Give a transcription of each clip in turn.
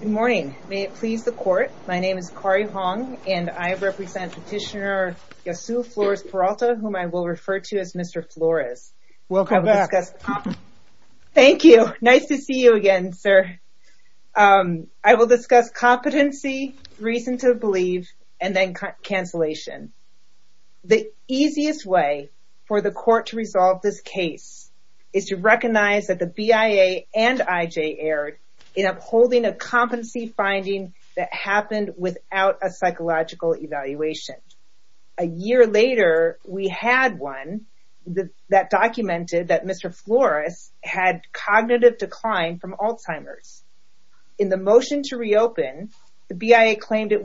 Good morning, may it please the court. My name is Kari Hong and I represent Petitioner Ysaul Flores Peralta, whom I will refer to as Mr. Flores. Thank you, nice to see you again sir. I will discuss competency, reason to believe, and then cancellation. The easiest way for the court to resolve this case is to recognize that the BIA and IJ erred in upholding a competency finding that happened without a psychological evaluation. A year later, we had one that documented that Mr. Flores had cognitive decline from Alzheimer's. In the motion to reopen, the BIA claimed it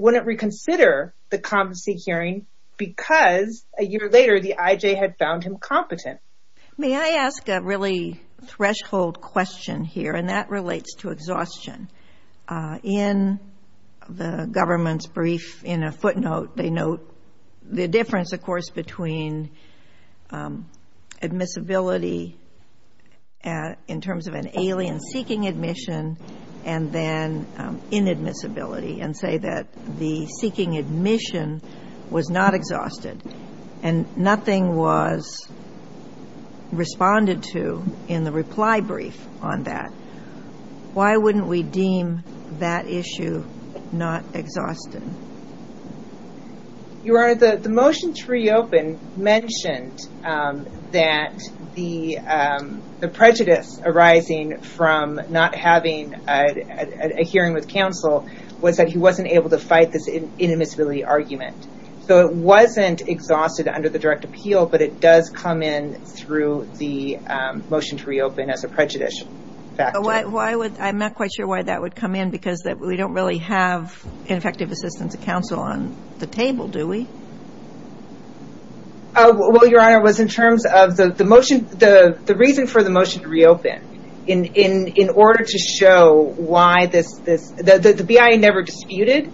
May I ask a really threshold question here and that relates to exhaustion. In the government's brief in a footnote, they note the difference of course between admissibility in terms of an alien seeking admission and then inadmissibility and say that the seeking admission was not responded to in the reply brief on that. Why wouldn't we deem that issue not exhausted? Your Honor, the motion to reopen mentioned that the prejudice arising from not having a hearing with counsel was that he wasn't able to fight this inadmissibility argument. So it wasn't exhausted under the direct appeal but it does come in through the motion to reopen as a prejudice factor. I'm not quite sure why that would come in because we don't really have an effective assistance of counsel on the table, do we? The reason for the motion to reopen, the BIA never disputed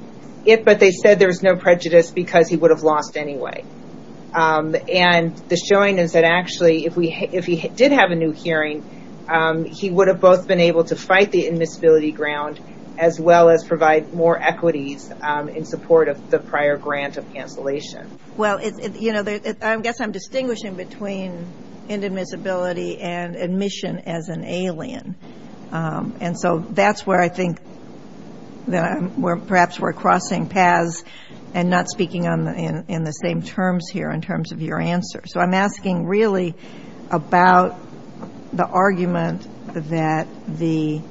it but they said there was no prejudice because he would have lost anyway. The showing is that actually if he did have a new hearing, he would have both been able to fight the inadmissibility ground as well as provide more equities in support of the prior grant of cancellation. I guess I'm distinguishing between inadmissibility and admission as an alien. So that's where I think perhaps we're crossing paths and not speaking in the same terms here in terms of your answer. So I'm asking really about the argument that the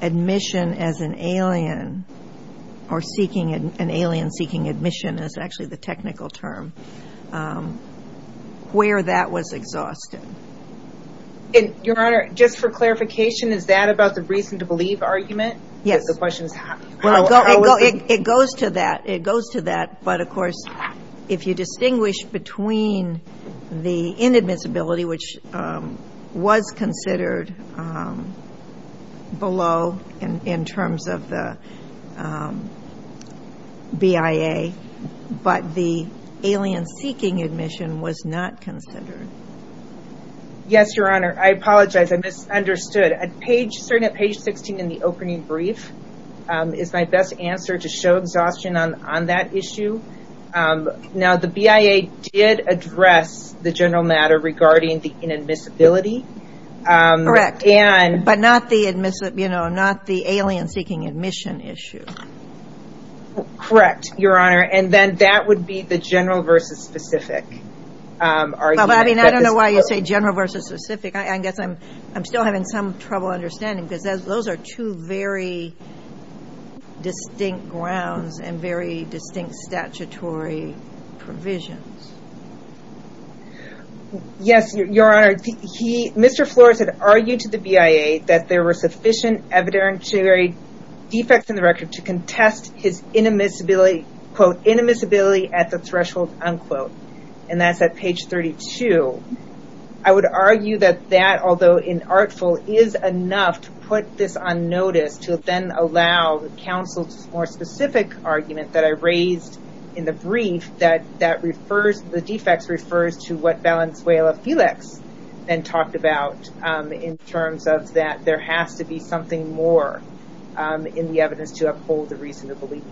admission as an alien or seeking an alien seeking admission is actually the technical term. Where that was exhausted. Your Honor, just for clarification, is that about the reason to believe argument? Yes. The question is how was it? It goes to that. It goes to that but of course if you distinguish between the inadmissibility which was considered below in terms of the BIA but the alien seeking admission was not considered. Yes, Your Honor. I apologize. I misunderstood. Certainly at page 16 in the opening brief is my best answer to show exhaustion on that issue. Now the BIA did address the general matter regarding the inadmissibility. But not the alien seeking admission issue. Correct, Your Honor. And then that would be the general versus specific argument. I don't know why you say general versus specific. I guess I'm still having some trouble understanding because those are two very distinct grounds and very distinct statutory provisions. Yes, Your Honor. Mr. Flores had argued to the BIA that there were sufficient evidentiary defects in the record to contest his inadmissibility at the threshold, and that's at page 32. I would argue that that, although inartful, is enough to put this on notice to then allow counsel's more specific argument that I raised in the brief that the defects refers to what Lanzuela-Felix then talked about in terms of that there has to be something more in the evidence to uphold the reason to believe.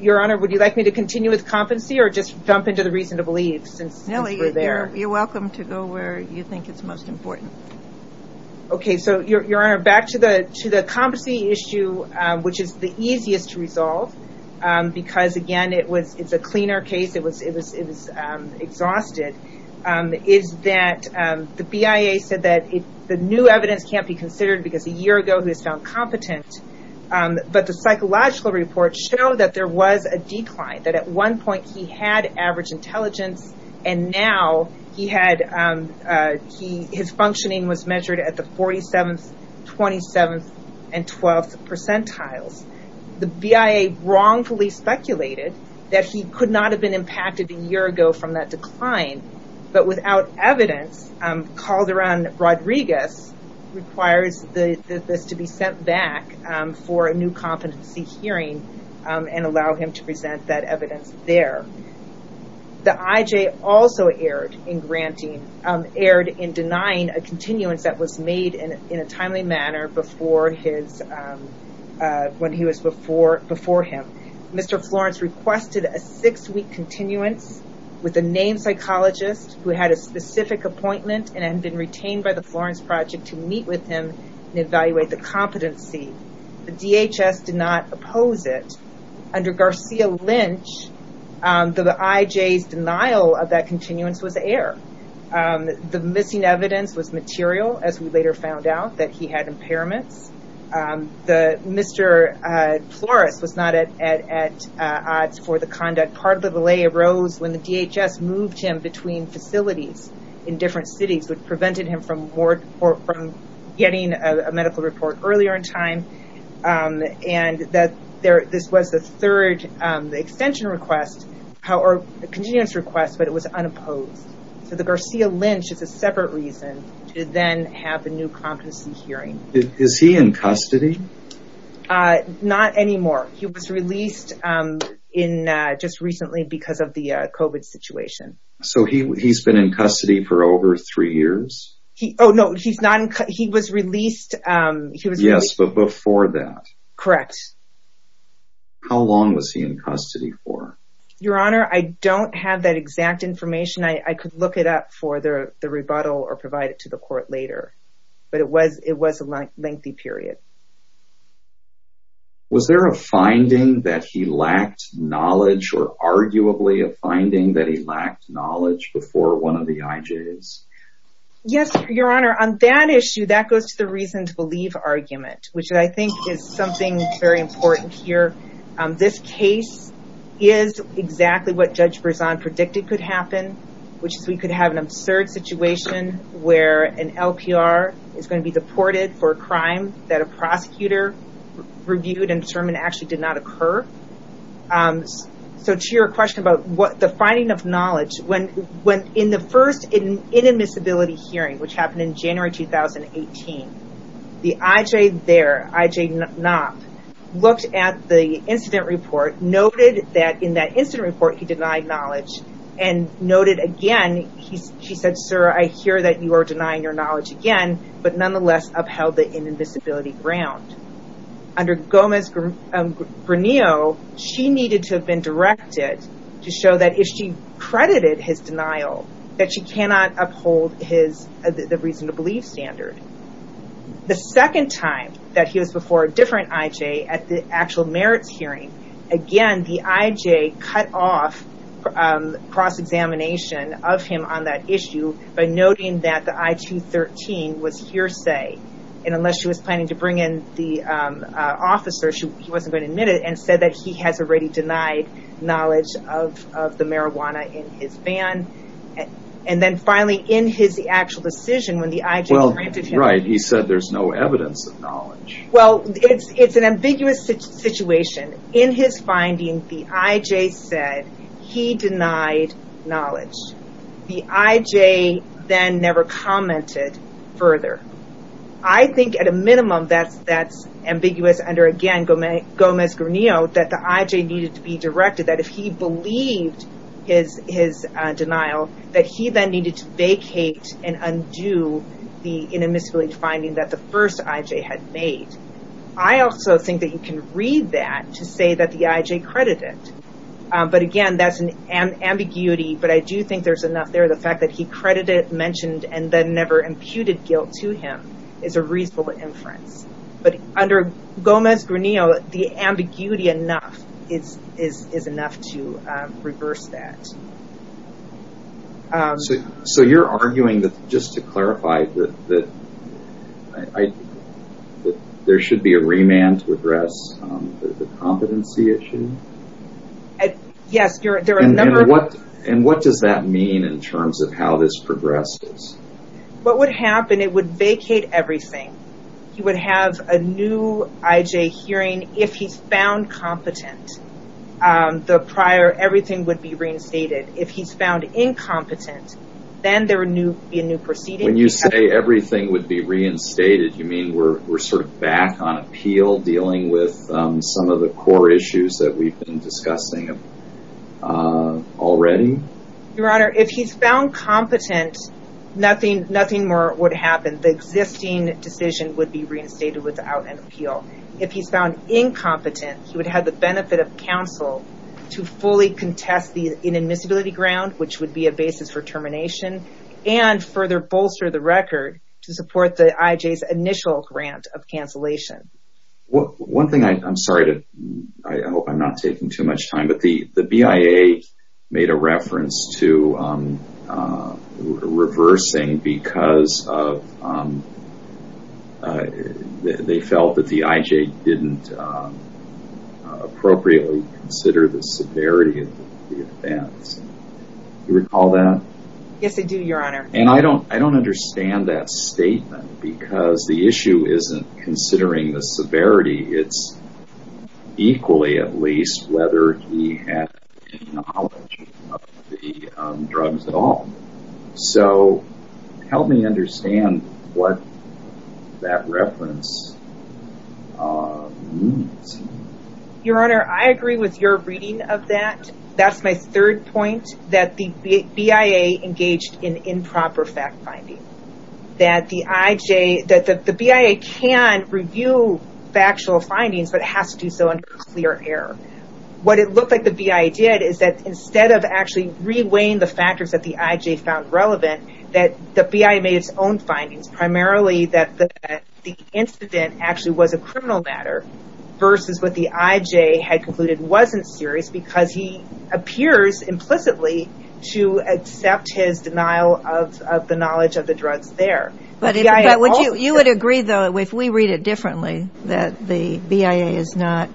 Your Honor, would you like me to continue with competency or just jump into the reason to believe since we're there? No, you're welcome to go where you think it's most important. Okay, so Your Honor, back to the competency issue, which is the easiest to resolve because again it's a cleaner case, it was exhausted, is that the BIA said that the new evidence can't be considered because a year ago he was found competent, but the psychological report showed that there was a decline, that at one point he had average intelligence and now his functioning was measured at the 47th, 27th and 12th percentiles. The BIA wrongfully speculated that he could not have been impacted a year ago from that decline, but without evidence, Calderon-Rodriguez requires this to be sent back for a new competency hearing and allow him to present that evidence there. The IJ also erred in denying a continuance that was made in a timely manner before when he was before him. Mr. Florence requested a six-week continuance with a named psychologist who had a specific appointment and had been retained by the Florence Project to meet with him and evaluate the competency. The DHS did not oppose it. Under Garcia-Lynch, the IJ's denial of that continuance was air. The missing evidence was material, as we later found out, that he had impairments. Mr. Florence was not at odds for the conduct. Part of the delay arose when the DHS moved him between facilities in different cities which prevented him from getting a medical report earlier in time. This was the third extension request, continuance request, but it was unopposed. The Garcia-Lynch is a separate reason to then have a new competency hearing. Is he in custody? Not anymore. He was released just recently because of the COVID situation. So he's been in custody for over three years? Oh, no, he was released... Yes, but before that. Correct. How long was he in custody for? Your Honor, I don't have that exact information. I could look it up for the rebuttal or provide it to the court later. But it was a lengthy period. Was there a finding that he lacked knowledge or arguably a finding that he lacked knowledge before one of the IJ's? Yes, Your Honor. On that issue, that goes to the reason to believe argument, which I think is something very important here. This case is exactly what Judge Berzon predicted could happen, which is we could have an absurd situation where an LPR is going to be deported for a crime that a prosecutor reviewed and determined actually did not occur. So to your question about the finding of knowledge, when in the first inadmissibility hearing, which happened in January 2018, the IJ there, IJ Knopp, looked at the incident report, noted that in that incident report he denied knowledge, and noted again, he said, Sir, I hear that you are denying your knowledge again, but nonetheless upheld the inadmissibility ground. Under Gomez-Granillo, she needed to have been directed to show that if she credited his standard. The second time that he was before a different IJ at the actual merits hearing, again, the IJ cut off cross-examination of him on that issue by noting that the I-213 was hearsay. Unless she was planning to bring in the officer, she wasn't going to admit it and said that he has already denied knowledge of the marijuana in his van. And then finally, in his actual decision, when the IJ granted him... Well, right, he said there's no evidence of knowledge. Well, it's an ambiguous situation. In his finding, the IJ said he denied knowledge. The IJ then never commented further. I think at a minimum that's ambiguous under, again, Gomez-Granillo, that the IJ needed to be directed that if he believed his denial, that he then needed to vacate and undo the inadmissibility finding that the first IJ had made. I also think that you can read that to say that the IJ credited. But again, that's an ambiguity, but I do think there's enough there. The fact that he credited, mentioned, and then never imputed guilt to him is a reasonable inference. But under Gomez-Granillo, the ambiguity enough is enough to reverse that. So you're arguing that, just to clarify, that there should be a remand to address the competency issue? Yes, there are a number of... And what does that mean in terms of how this progresses? What would happen, it would vacate everything. He would have a new IJ hearing if he's found competent. The prior, everything would be reinstated. If he's found incompetent, then there would be a new proceeding. When you say everything would be reinstated, you mean we're sort of back on appeal, dealing with some of the core issues that we've been discussing already? Your Honor, if he's found competent, nothing more would happen. The existing decision would be reinstated without an appeal. If he's found incompetent, he would have the benefit of counsel to fully contest the inadmissibility ground, which would be a basis for termination, and further bolster the record to support the IJ's initial grant of cancellation. One thing, I'm sorry, I hope I'm not taking too much time, but the BIA made a reference to reversing because they felt that the IJ didn't appropriately consider the severity of the events. Do you recall that? Yes, I do, Your Honor. And I don't understand that statement because the issue isn't considering the severity, it's equally at least whether he had any knowledge of the drugs at all. So, help me understand what that reference means. Your Honor, I agree with your reading of that. And that's my third point, that the BIA engaged in improper fact-finding. The BIA can review factual findings, but it has to do so under clear air. What it looked like the BIA did is that instead of actually re-weighing the factors that the IJ found relevant, that the BIA made its own findings, primarily that the incident actually was a criminal matter versus what the IJ had concluded wasn't serious because he appears implicitly to accept his denial of the knowledge of the drugs there. You would agree, though, if we read it differently, that the BIA is not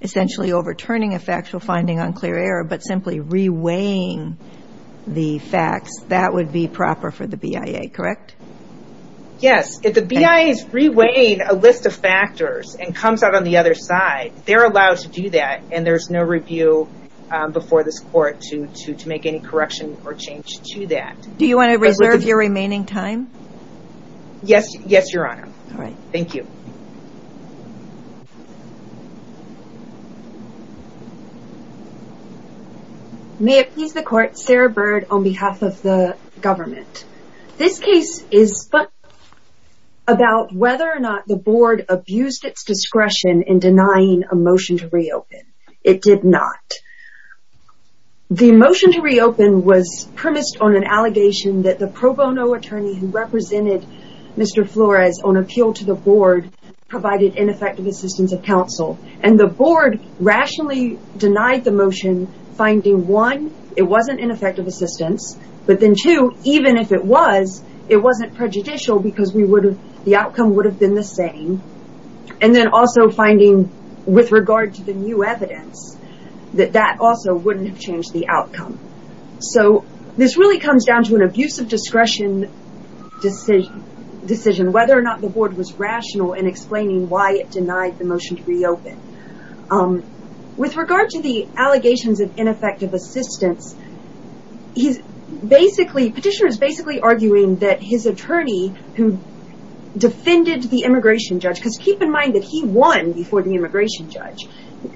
essentially overturning a factual finding on clear air, but simply re-weighing the facts, that would be proper for the BIA, correct? Yes, if the BIA is re-weighing a list of factors and comes out on the other side, they're allowed to do that and there's no review before this court to make any correction or change to that. Do you want to reserve your remaining time? Yes, Your Honor. Thank you. May it please the Court, Sarah Bird on behalf of the government. This case is about whether or not the Board abused its discretion in denying a motion to reopen. It did not. The motion to reopen was premised on an allegation that the pro bono attorney who represented Mr. Flores on appeal to the Board provided ineffective assistance of counsel and the Board rationally denied the motion finding, one, it wasn't ineffective assistance, but then, two, even if it was, it wasn't prejudicial because the outcome would have been the same, and then also finding, with regard to the new evidence, that that also wouldn't have changed the outcome. So, this really comes down to an abuse of discretion decision, whether or not the Board was rational in explaining why it denied the motion to reopen. With regard to the allegations of ineffective assistance, he's basically, petitioner is basically arguing that his attorney who defended the immigration judge, because keep in mind that he won before the immigration judge,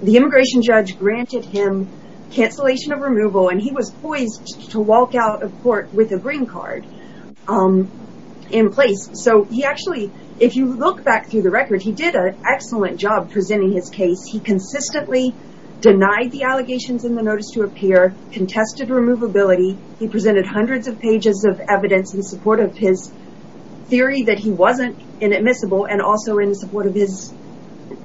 the immigration judge granted him cancellation of removal and he was poised to walk out of court with a green card in back through the record, he did an excellent job presenting his case. He consistently denied the allegations in the notice to appear, contested removability, he presented hundreds of pages of evidence in support of his theory that he wasn't inadmissible and also in support of his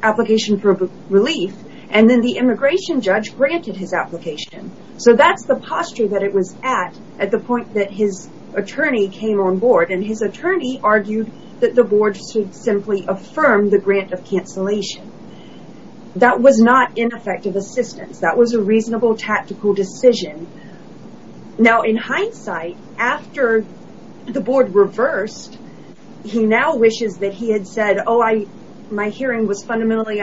application for relief, and then the immigration judge granted his application. So, that's the posture that it was at, at the point that his attorney came on board and his attorney argued that the Board should simply affirm the grant of cancellation. That was not ineffective assistance, that was a reasonable tactical decision. Now, in hindsight, after the Board reversed, he now wishes that he had said, oh, my hearing was fundamentally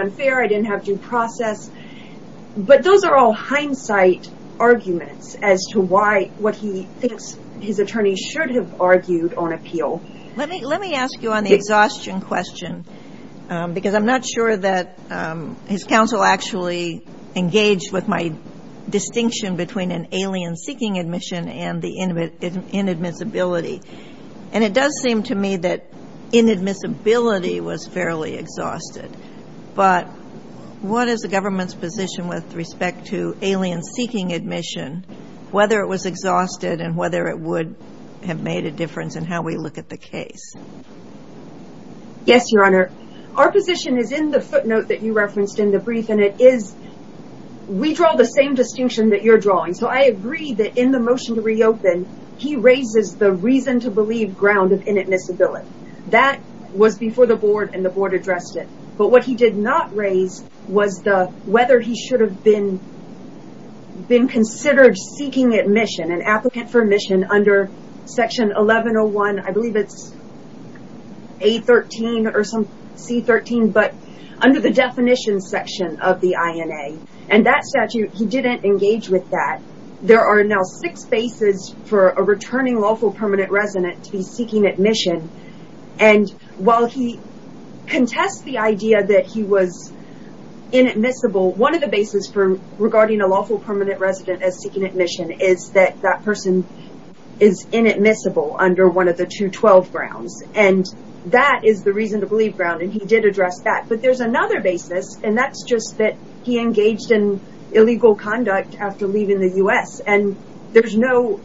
as to why, what he thinks his attorney should have argued on appeal. Let me, let me ask you on the exhaustion question, because I'm not sure that his counsel actually engaged with my distinction between an alien seeking admission and the inadmissibility. And it does seem to me that inadmissibility was fairly exhausted. But what is the government's position with respect to alien seeking admission, whether it was exhausted and whether it would have made a difference in how we look at the case? Yes, Your Honor. Our position is in the footnote that you referenced in the brief, and it is, we draw the same distinction that you're drawing. So, I agree that in the motion to reopen, he raises the reason to believe ground of inadmissibility. That was before the Board and the Board addressed it. But what he did not raise was the, whether he should have been considered seeking admission, an applicant for admission under Section 1101, I believe it's 813 or some, C13, but under the definition section of the INA. And that statute, he didn't engage with that. There are now six bases for a returning lawful permanent resident to be seeking admission. And while he contests the idea that he was inadmissible, one of the bases for regarding a lawful permanent resident as seeking admission is that that person is inadmissible under one of the 212 grounds. And that is the reason to believe ground, and he did address that. But there's another basis, and that's just that he engaged in illegal conduct after leaving the U.S. And there's no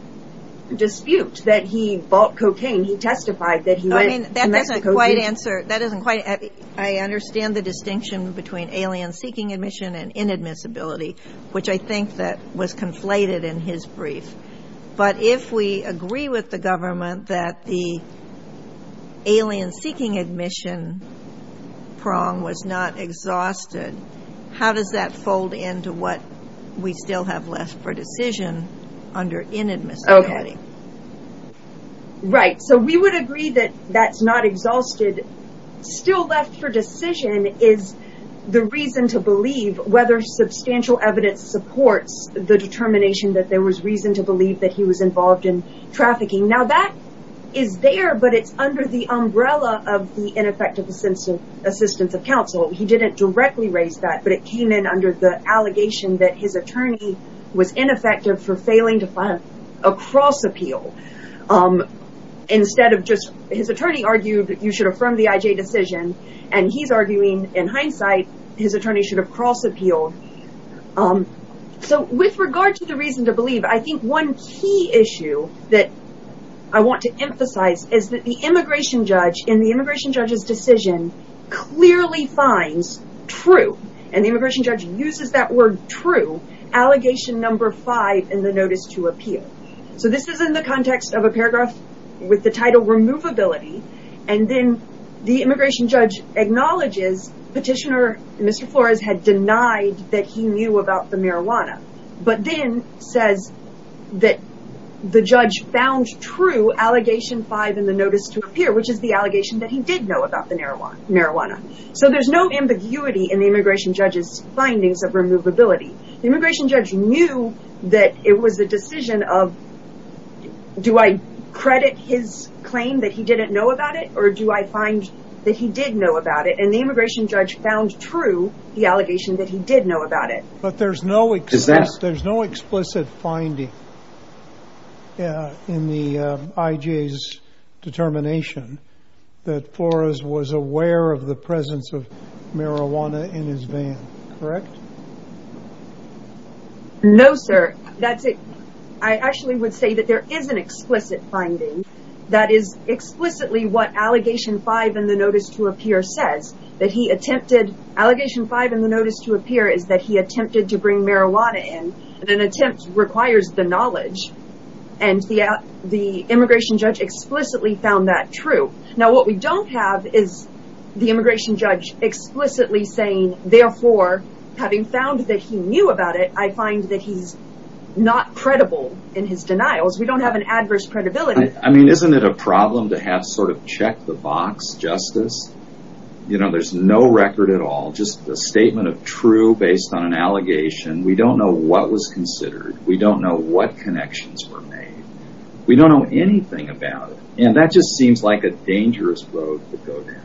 dispute that he bought cocaine. He testified that he went to Mexico. I mean, that doesn't quite answer, that doesn't quite, I understand the distinction between alien seeking admission and inadmissibility, which I think that was conflated in his brief. But if we agree with the government that the alien seeking admission prong was not exhausted, how does that fold into what we still have left for decision under inadmissibility? Right. So we would agree that that's not exhausted. Still left for decision is the reason to believe whether substantial evidence supports the determination that there was reason to believe that he was involved in trafficking. Now that is there, but it's under the umbrella of the ineffective assistance of counsel. He didn't directly raise that, but it came in under the allegation that his attorney was ineffective for failing to file a cross-appeal. Instead of just, his attorney argued that you should affirm the IJ decision, and he's arguing in hindsight his attorney should have cross-appealed. So with regard to the reason to believe, I think one key issue that I want to emphasize is that the immigration judge in the immigration judge's decision clearly finds true, and the immigration judge uses that word true, allegation number five in the notice to appeal. So this is in the context of a paragraph with the title removability, and then the immigration judge acknowledges petitioner, Mr. Flores, had denied that he knew about the marijuana, but then says that the judge found true allegation five in the notice to appear, which is the allegation that he did know about the marijuana. So there's no ambiguity in the immigration judge's findings of removability. The immigration judge knew that it was a decision of, do I credit his claim that he didn't know about it, or do I find that he did know about it, and the immigration judge found true the allegation that he did know about it. But there's no explicit finding in the IJ's determination that Flores was aware of the presence of marijuana in his van, correct? No, sir. I actually would say that there is an explicit finding that is explicitly what allegation five in the notice to appear says, that he attempted, allegation five in the notice to appear is that he attempted to bring marijuana in, and an attempt requires the knowledge, and the immigration judge explicitly found that true. Now, what we don't have is the immigration judge explicitly saying, therefore, having found that he knew about it, I find that he's not credible in his denials. We don't have an adverse credibility. I mean, isn't it a problem to have sort of check the box justice? You know, there's no record at all, just a statement of true based on an allegation. We don't know what was considered. We don't know what connections were made. We don't know anything about it. And that just seems like a dangerous road to go down.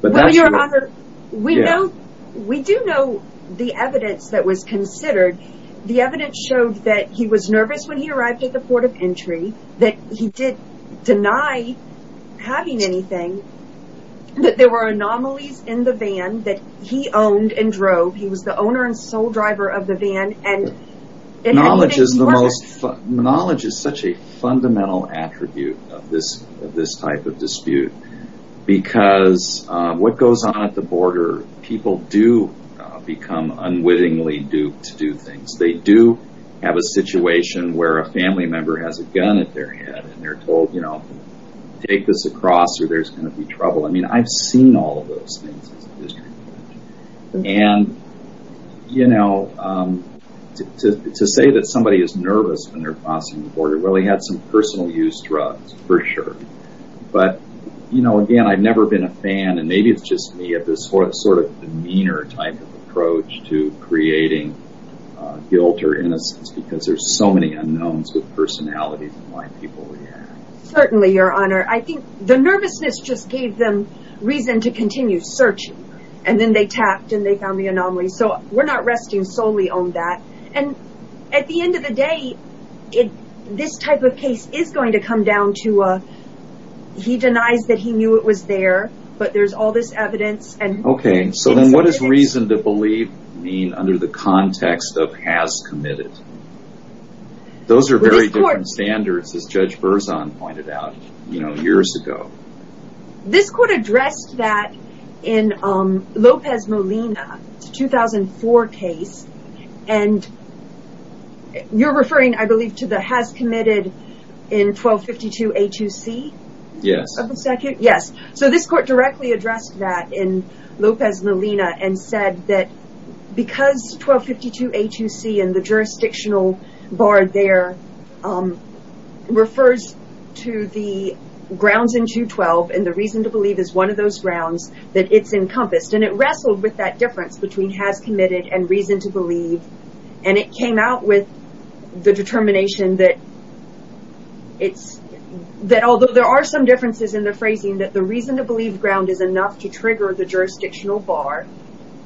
Well, your honor, we do know the evidence that was considered. The evidence showed that he was nervous when he arrived at the port of entry, that he did deny having anything, that there were anomalies in the van that he owned and drove. He was the owner and sole driver of the van. Knowledge is such a fundamental attribute of this type of dispute, because what goes on at the border, people do become unwittingly duped to do things. They do have a situation where a family member has a gun at their head, and they're told, you know, take this across or there's going to be trouble. I mean, I've seen all of those things. And, you know, to say that somebody is nervous when they're crossing the border. Well, he had some personal use drugs for sure. But, you know, again, I've never been a fan and maybe it's just me at this sort of demeanor type of approach to creating guilt or innocence, because there's so many unknowns with personalities. Certainly, Your Honor. I think the nervousness just gave them reason to continue searching. And then they tapped and they found the anomaly. So we're not resting solely on that. And at the end of the day, this type of case is going to come down to he denies that he knew it was there. But there's all this evidence. Okay. So then what does reason to believe mean under the context of has committed? Those are very different standards, as Judge Berzon pointed out, you know, years ago. This court addressed that in Lopez Molina, 2004 case. And you're referring, I believe, to the has committed in 1252 A2C? Yes. So this court directly addressed that in Lopez Molina and said that because 1252 A2C and the jurisdictional bar there refers to the grounds in 212 and the reason to believe is one of those grounds that it's encompassed. And it wrestled with that difference between has committed and reason to believe. And it came out with the determination that it's that although there are some differences in the phrasing that the reason to believe ground is enough to trigger the jurisdictional bar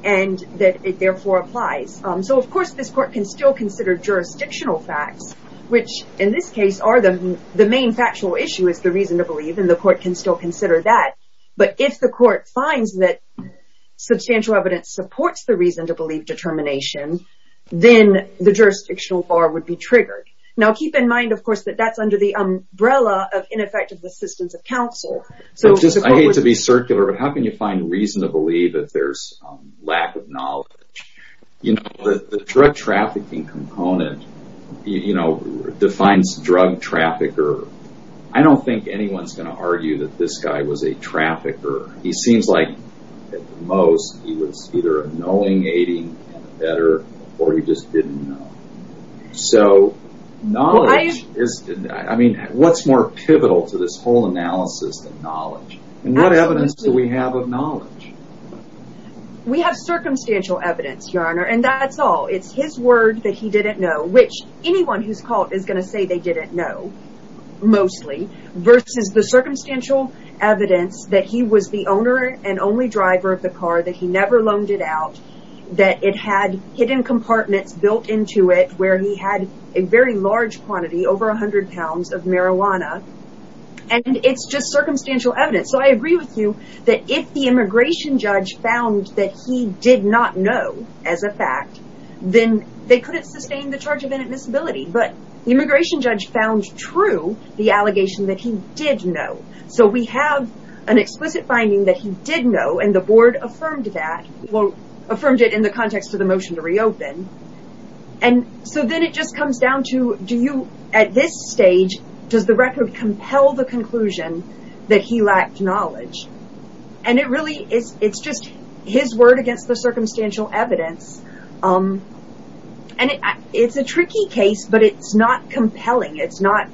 and that it therefore applies. So, of course, this court can still consider jurisdictional facts, which in this case are the main factual issue is the reason to believe. And the court can still consider that. But if the court finds that substantial evidence supports the reason to believe determination, then the jurisdictional bar would be triggered. Now, keep in mind, of course, that that's under the umbrella of ineffective assistance of counsel. I hate to be circular, but how can you find reason to believe that there's lack of knowledge? You know, the drug trafficking component, you know, defines drug trafficker. I don't think anyone's going to argue that this guy was a trafficker. He seems like at most he was either a knowing aiding and a better or he just didn't know. So knowledge is I mean, what's more pivotal to this whole analysis than knowledge? And what evidence do we have of knowledge? We have circumstantial evidence, Your Honor, and that's all. It's his word that he didn't know, which anyone who's caught is going to say they didn't know. Mostly versus the circumstantial evidence that he was the owner and only driver of the car that he never loaned it out. That it had hidden compartments built into it where he had a very large quantity, over 100 pounds of marijuana. And it's just circumstantial evidence. So I agree with you that if the immigration judge found that he did not know as a fact, then they couldn't sustain the charge of inadmissibility. But the immigration judge found true the allegation that he did know. So we have an explicit finding that he did know and the board affirmed that. Well, affirmed it in the context of the motion to reopen. And so then it just comes down to do you at this stage, does the record compel the conclusion that he lacked knowledge? And it really is. It's just his word against the circumstantial evidence. And it's a tricky case, but it's not compelling. It's not.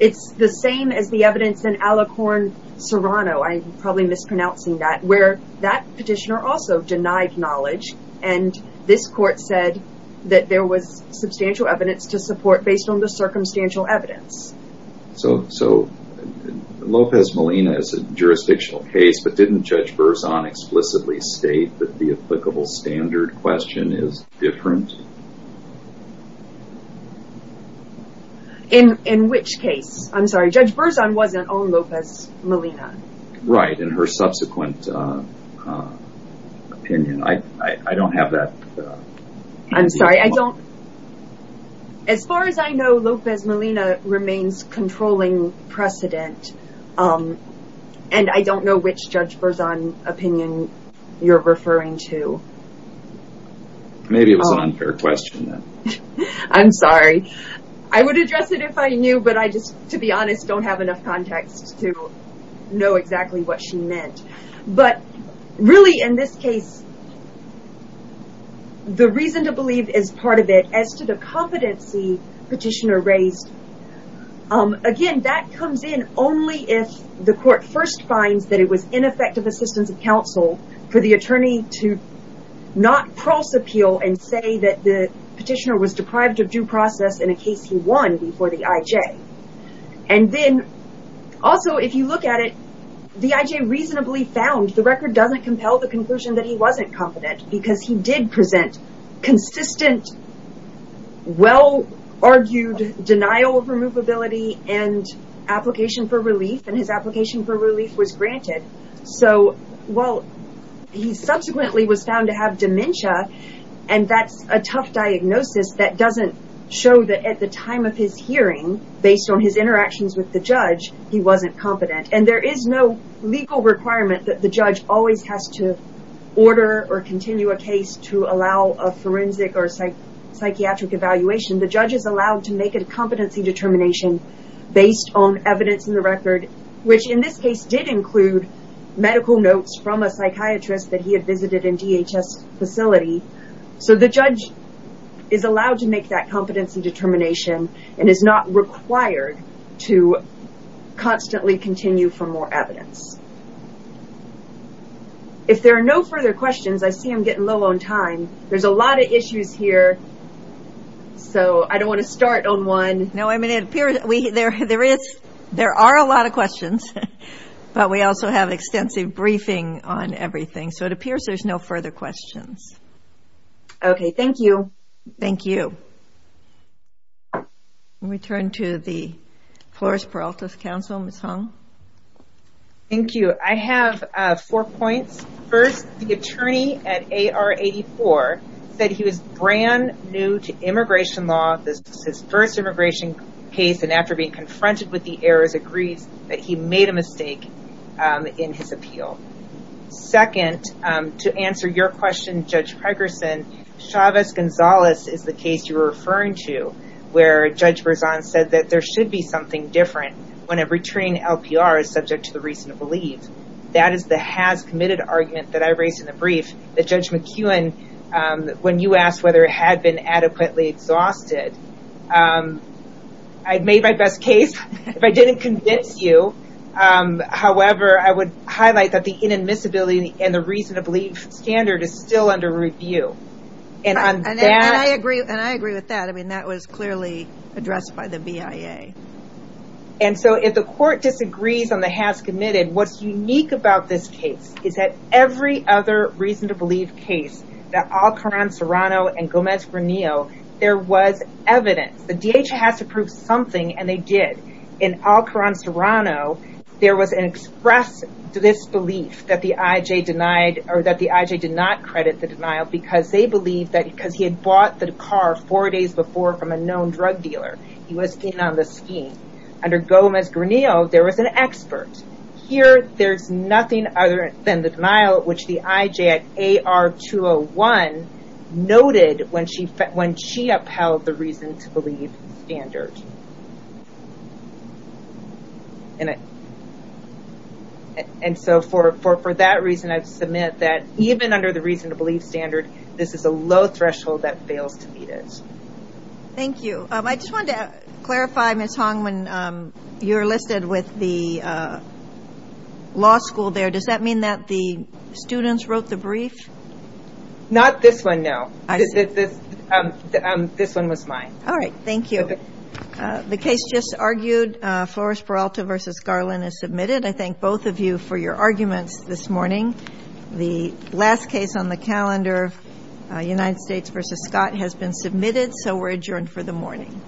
It's the same as the evidence in Alicorn Serrano. I probably mispronouncing that where that petitioner also denied knowledge. And this court said that there was substantial evidence to support based on the circumstantial evidence. So so Lopez Molina is a jurisdictional case. But didn't Judge Burzon explicitly state that the applicable standard question is different? In which case? I'm sorry, Judge Burzon wasn't on Lopez Molina. Right. And her subsequent opinion. I don't have that. I'm sorry, I don't. As far as I know, Lopez Molina remains controlling precedent. And I don't know which Judge Burzon opinion you're referring to. Maybe it was an unfair question. I'm sorry. I would address it if I knew. But I just, to be honest, don't have enough context to know exactly what she meant. But really, in this case, the reason to believe is part of it as to the competency petitioner raised. Again, that comes in only if the court first finds that it was ineffective assistance of counsel for the attorney to not cross appeal and say that the petitioner was deprived of due process in a case he won before the IJ. And then also, if you look at it, the IJ reasonably found the record doesn't compel the conclusion that he wasn't competent because he did present consistent. Well, argued denial of removability and application for relief and his application for relief was granted. So, well, he subsequently was found to have dementia, and that's a tough diagnosis that doesn't show that at the time of his hearing, based on his interactions with the judge, he wasn't competent. And there is no legal requirement that the judge always has to order or continue a case to allow a forensic or psychiatric evaluation. The judge is allowed to make a competency determination based on evidence in the record, which in this case did include medical notes from a psychiatrist that he had visited in DHS facility. So the judge is allowed to make that competency determination and is not required to constantly continue for more evidence. If there are no further questions, I see I'm getting low on time. There's a lot of issues here, so I don't want to start on one. No, I mean, it appears there are a lot of questions, but we also have extensive briefing on everything, so it appears there's no further questions. Okay, thank you. Thank you. We turn to the Floris Peralta's counsel, Ms. Hung. Thank you. I have four points. First, the attorney at AR-84 said he was brand new to immigration law. This is his first immigration case, and after being confronted with the errors, agrees that he made a mistake in his appeal. Second, to answer your question, Judge Pregerson, Chavez-Gonzalez is the case you were referring to, where Judge Berzon said that there should be something different when a returning LPR is subject to the reason to leave. That is the has committed argument that I raised in the brief that Judge McKeown, when you asked whether it had been adequately exhausted, I'd made my best case if I didn't convince you. However, I would highlight that the inadmissibility and the reason to leave standard is still under review. And I agree with that. I mean, that was clearly addressed by the BIA. And so, if the court disagrees on the has committed, what's unique about this case is that every other reason to leave case, the Alcoran-Serrano and Gomez-Ranillo, there was evidence. The DHA has to prove something, and they did. In Alcoran-Serrano, there was an express disbelief that the IJ did not credit the denial because they believed that because he had bought the car four days before from a known drug dealer, he was in on the scheme. Under Gomez-Ranillo, there was an expert. Here, there's nothing other than the denial which the IJ at AR-201 noted when she upheld the reason to leave standard. And so, for that reason, I submit that even under the reason to leave standard, this is a low threshold that fails to meet it. Thank you. I just wanted to clarify, Ms. Hong, when you're listed with the law school there, does that mean that the students wrote the brief? Not this one, no. This one was mine. All right. Thank you. The case just argued, Flores-Peralta v. Garland is submitted. I thank both of you for your arguments this morning. The last case on the calendar, United States v. Scott, has been submitted, so we're adjourned for the morning.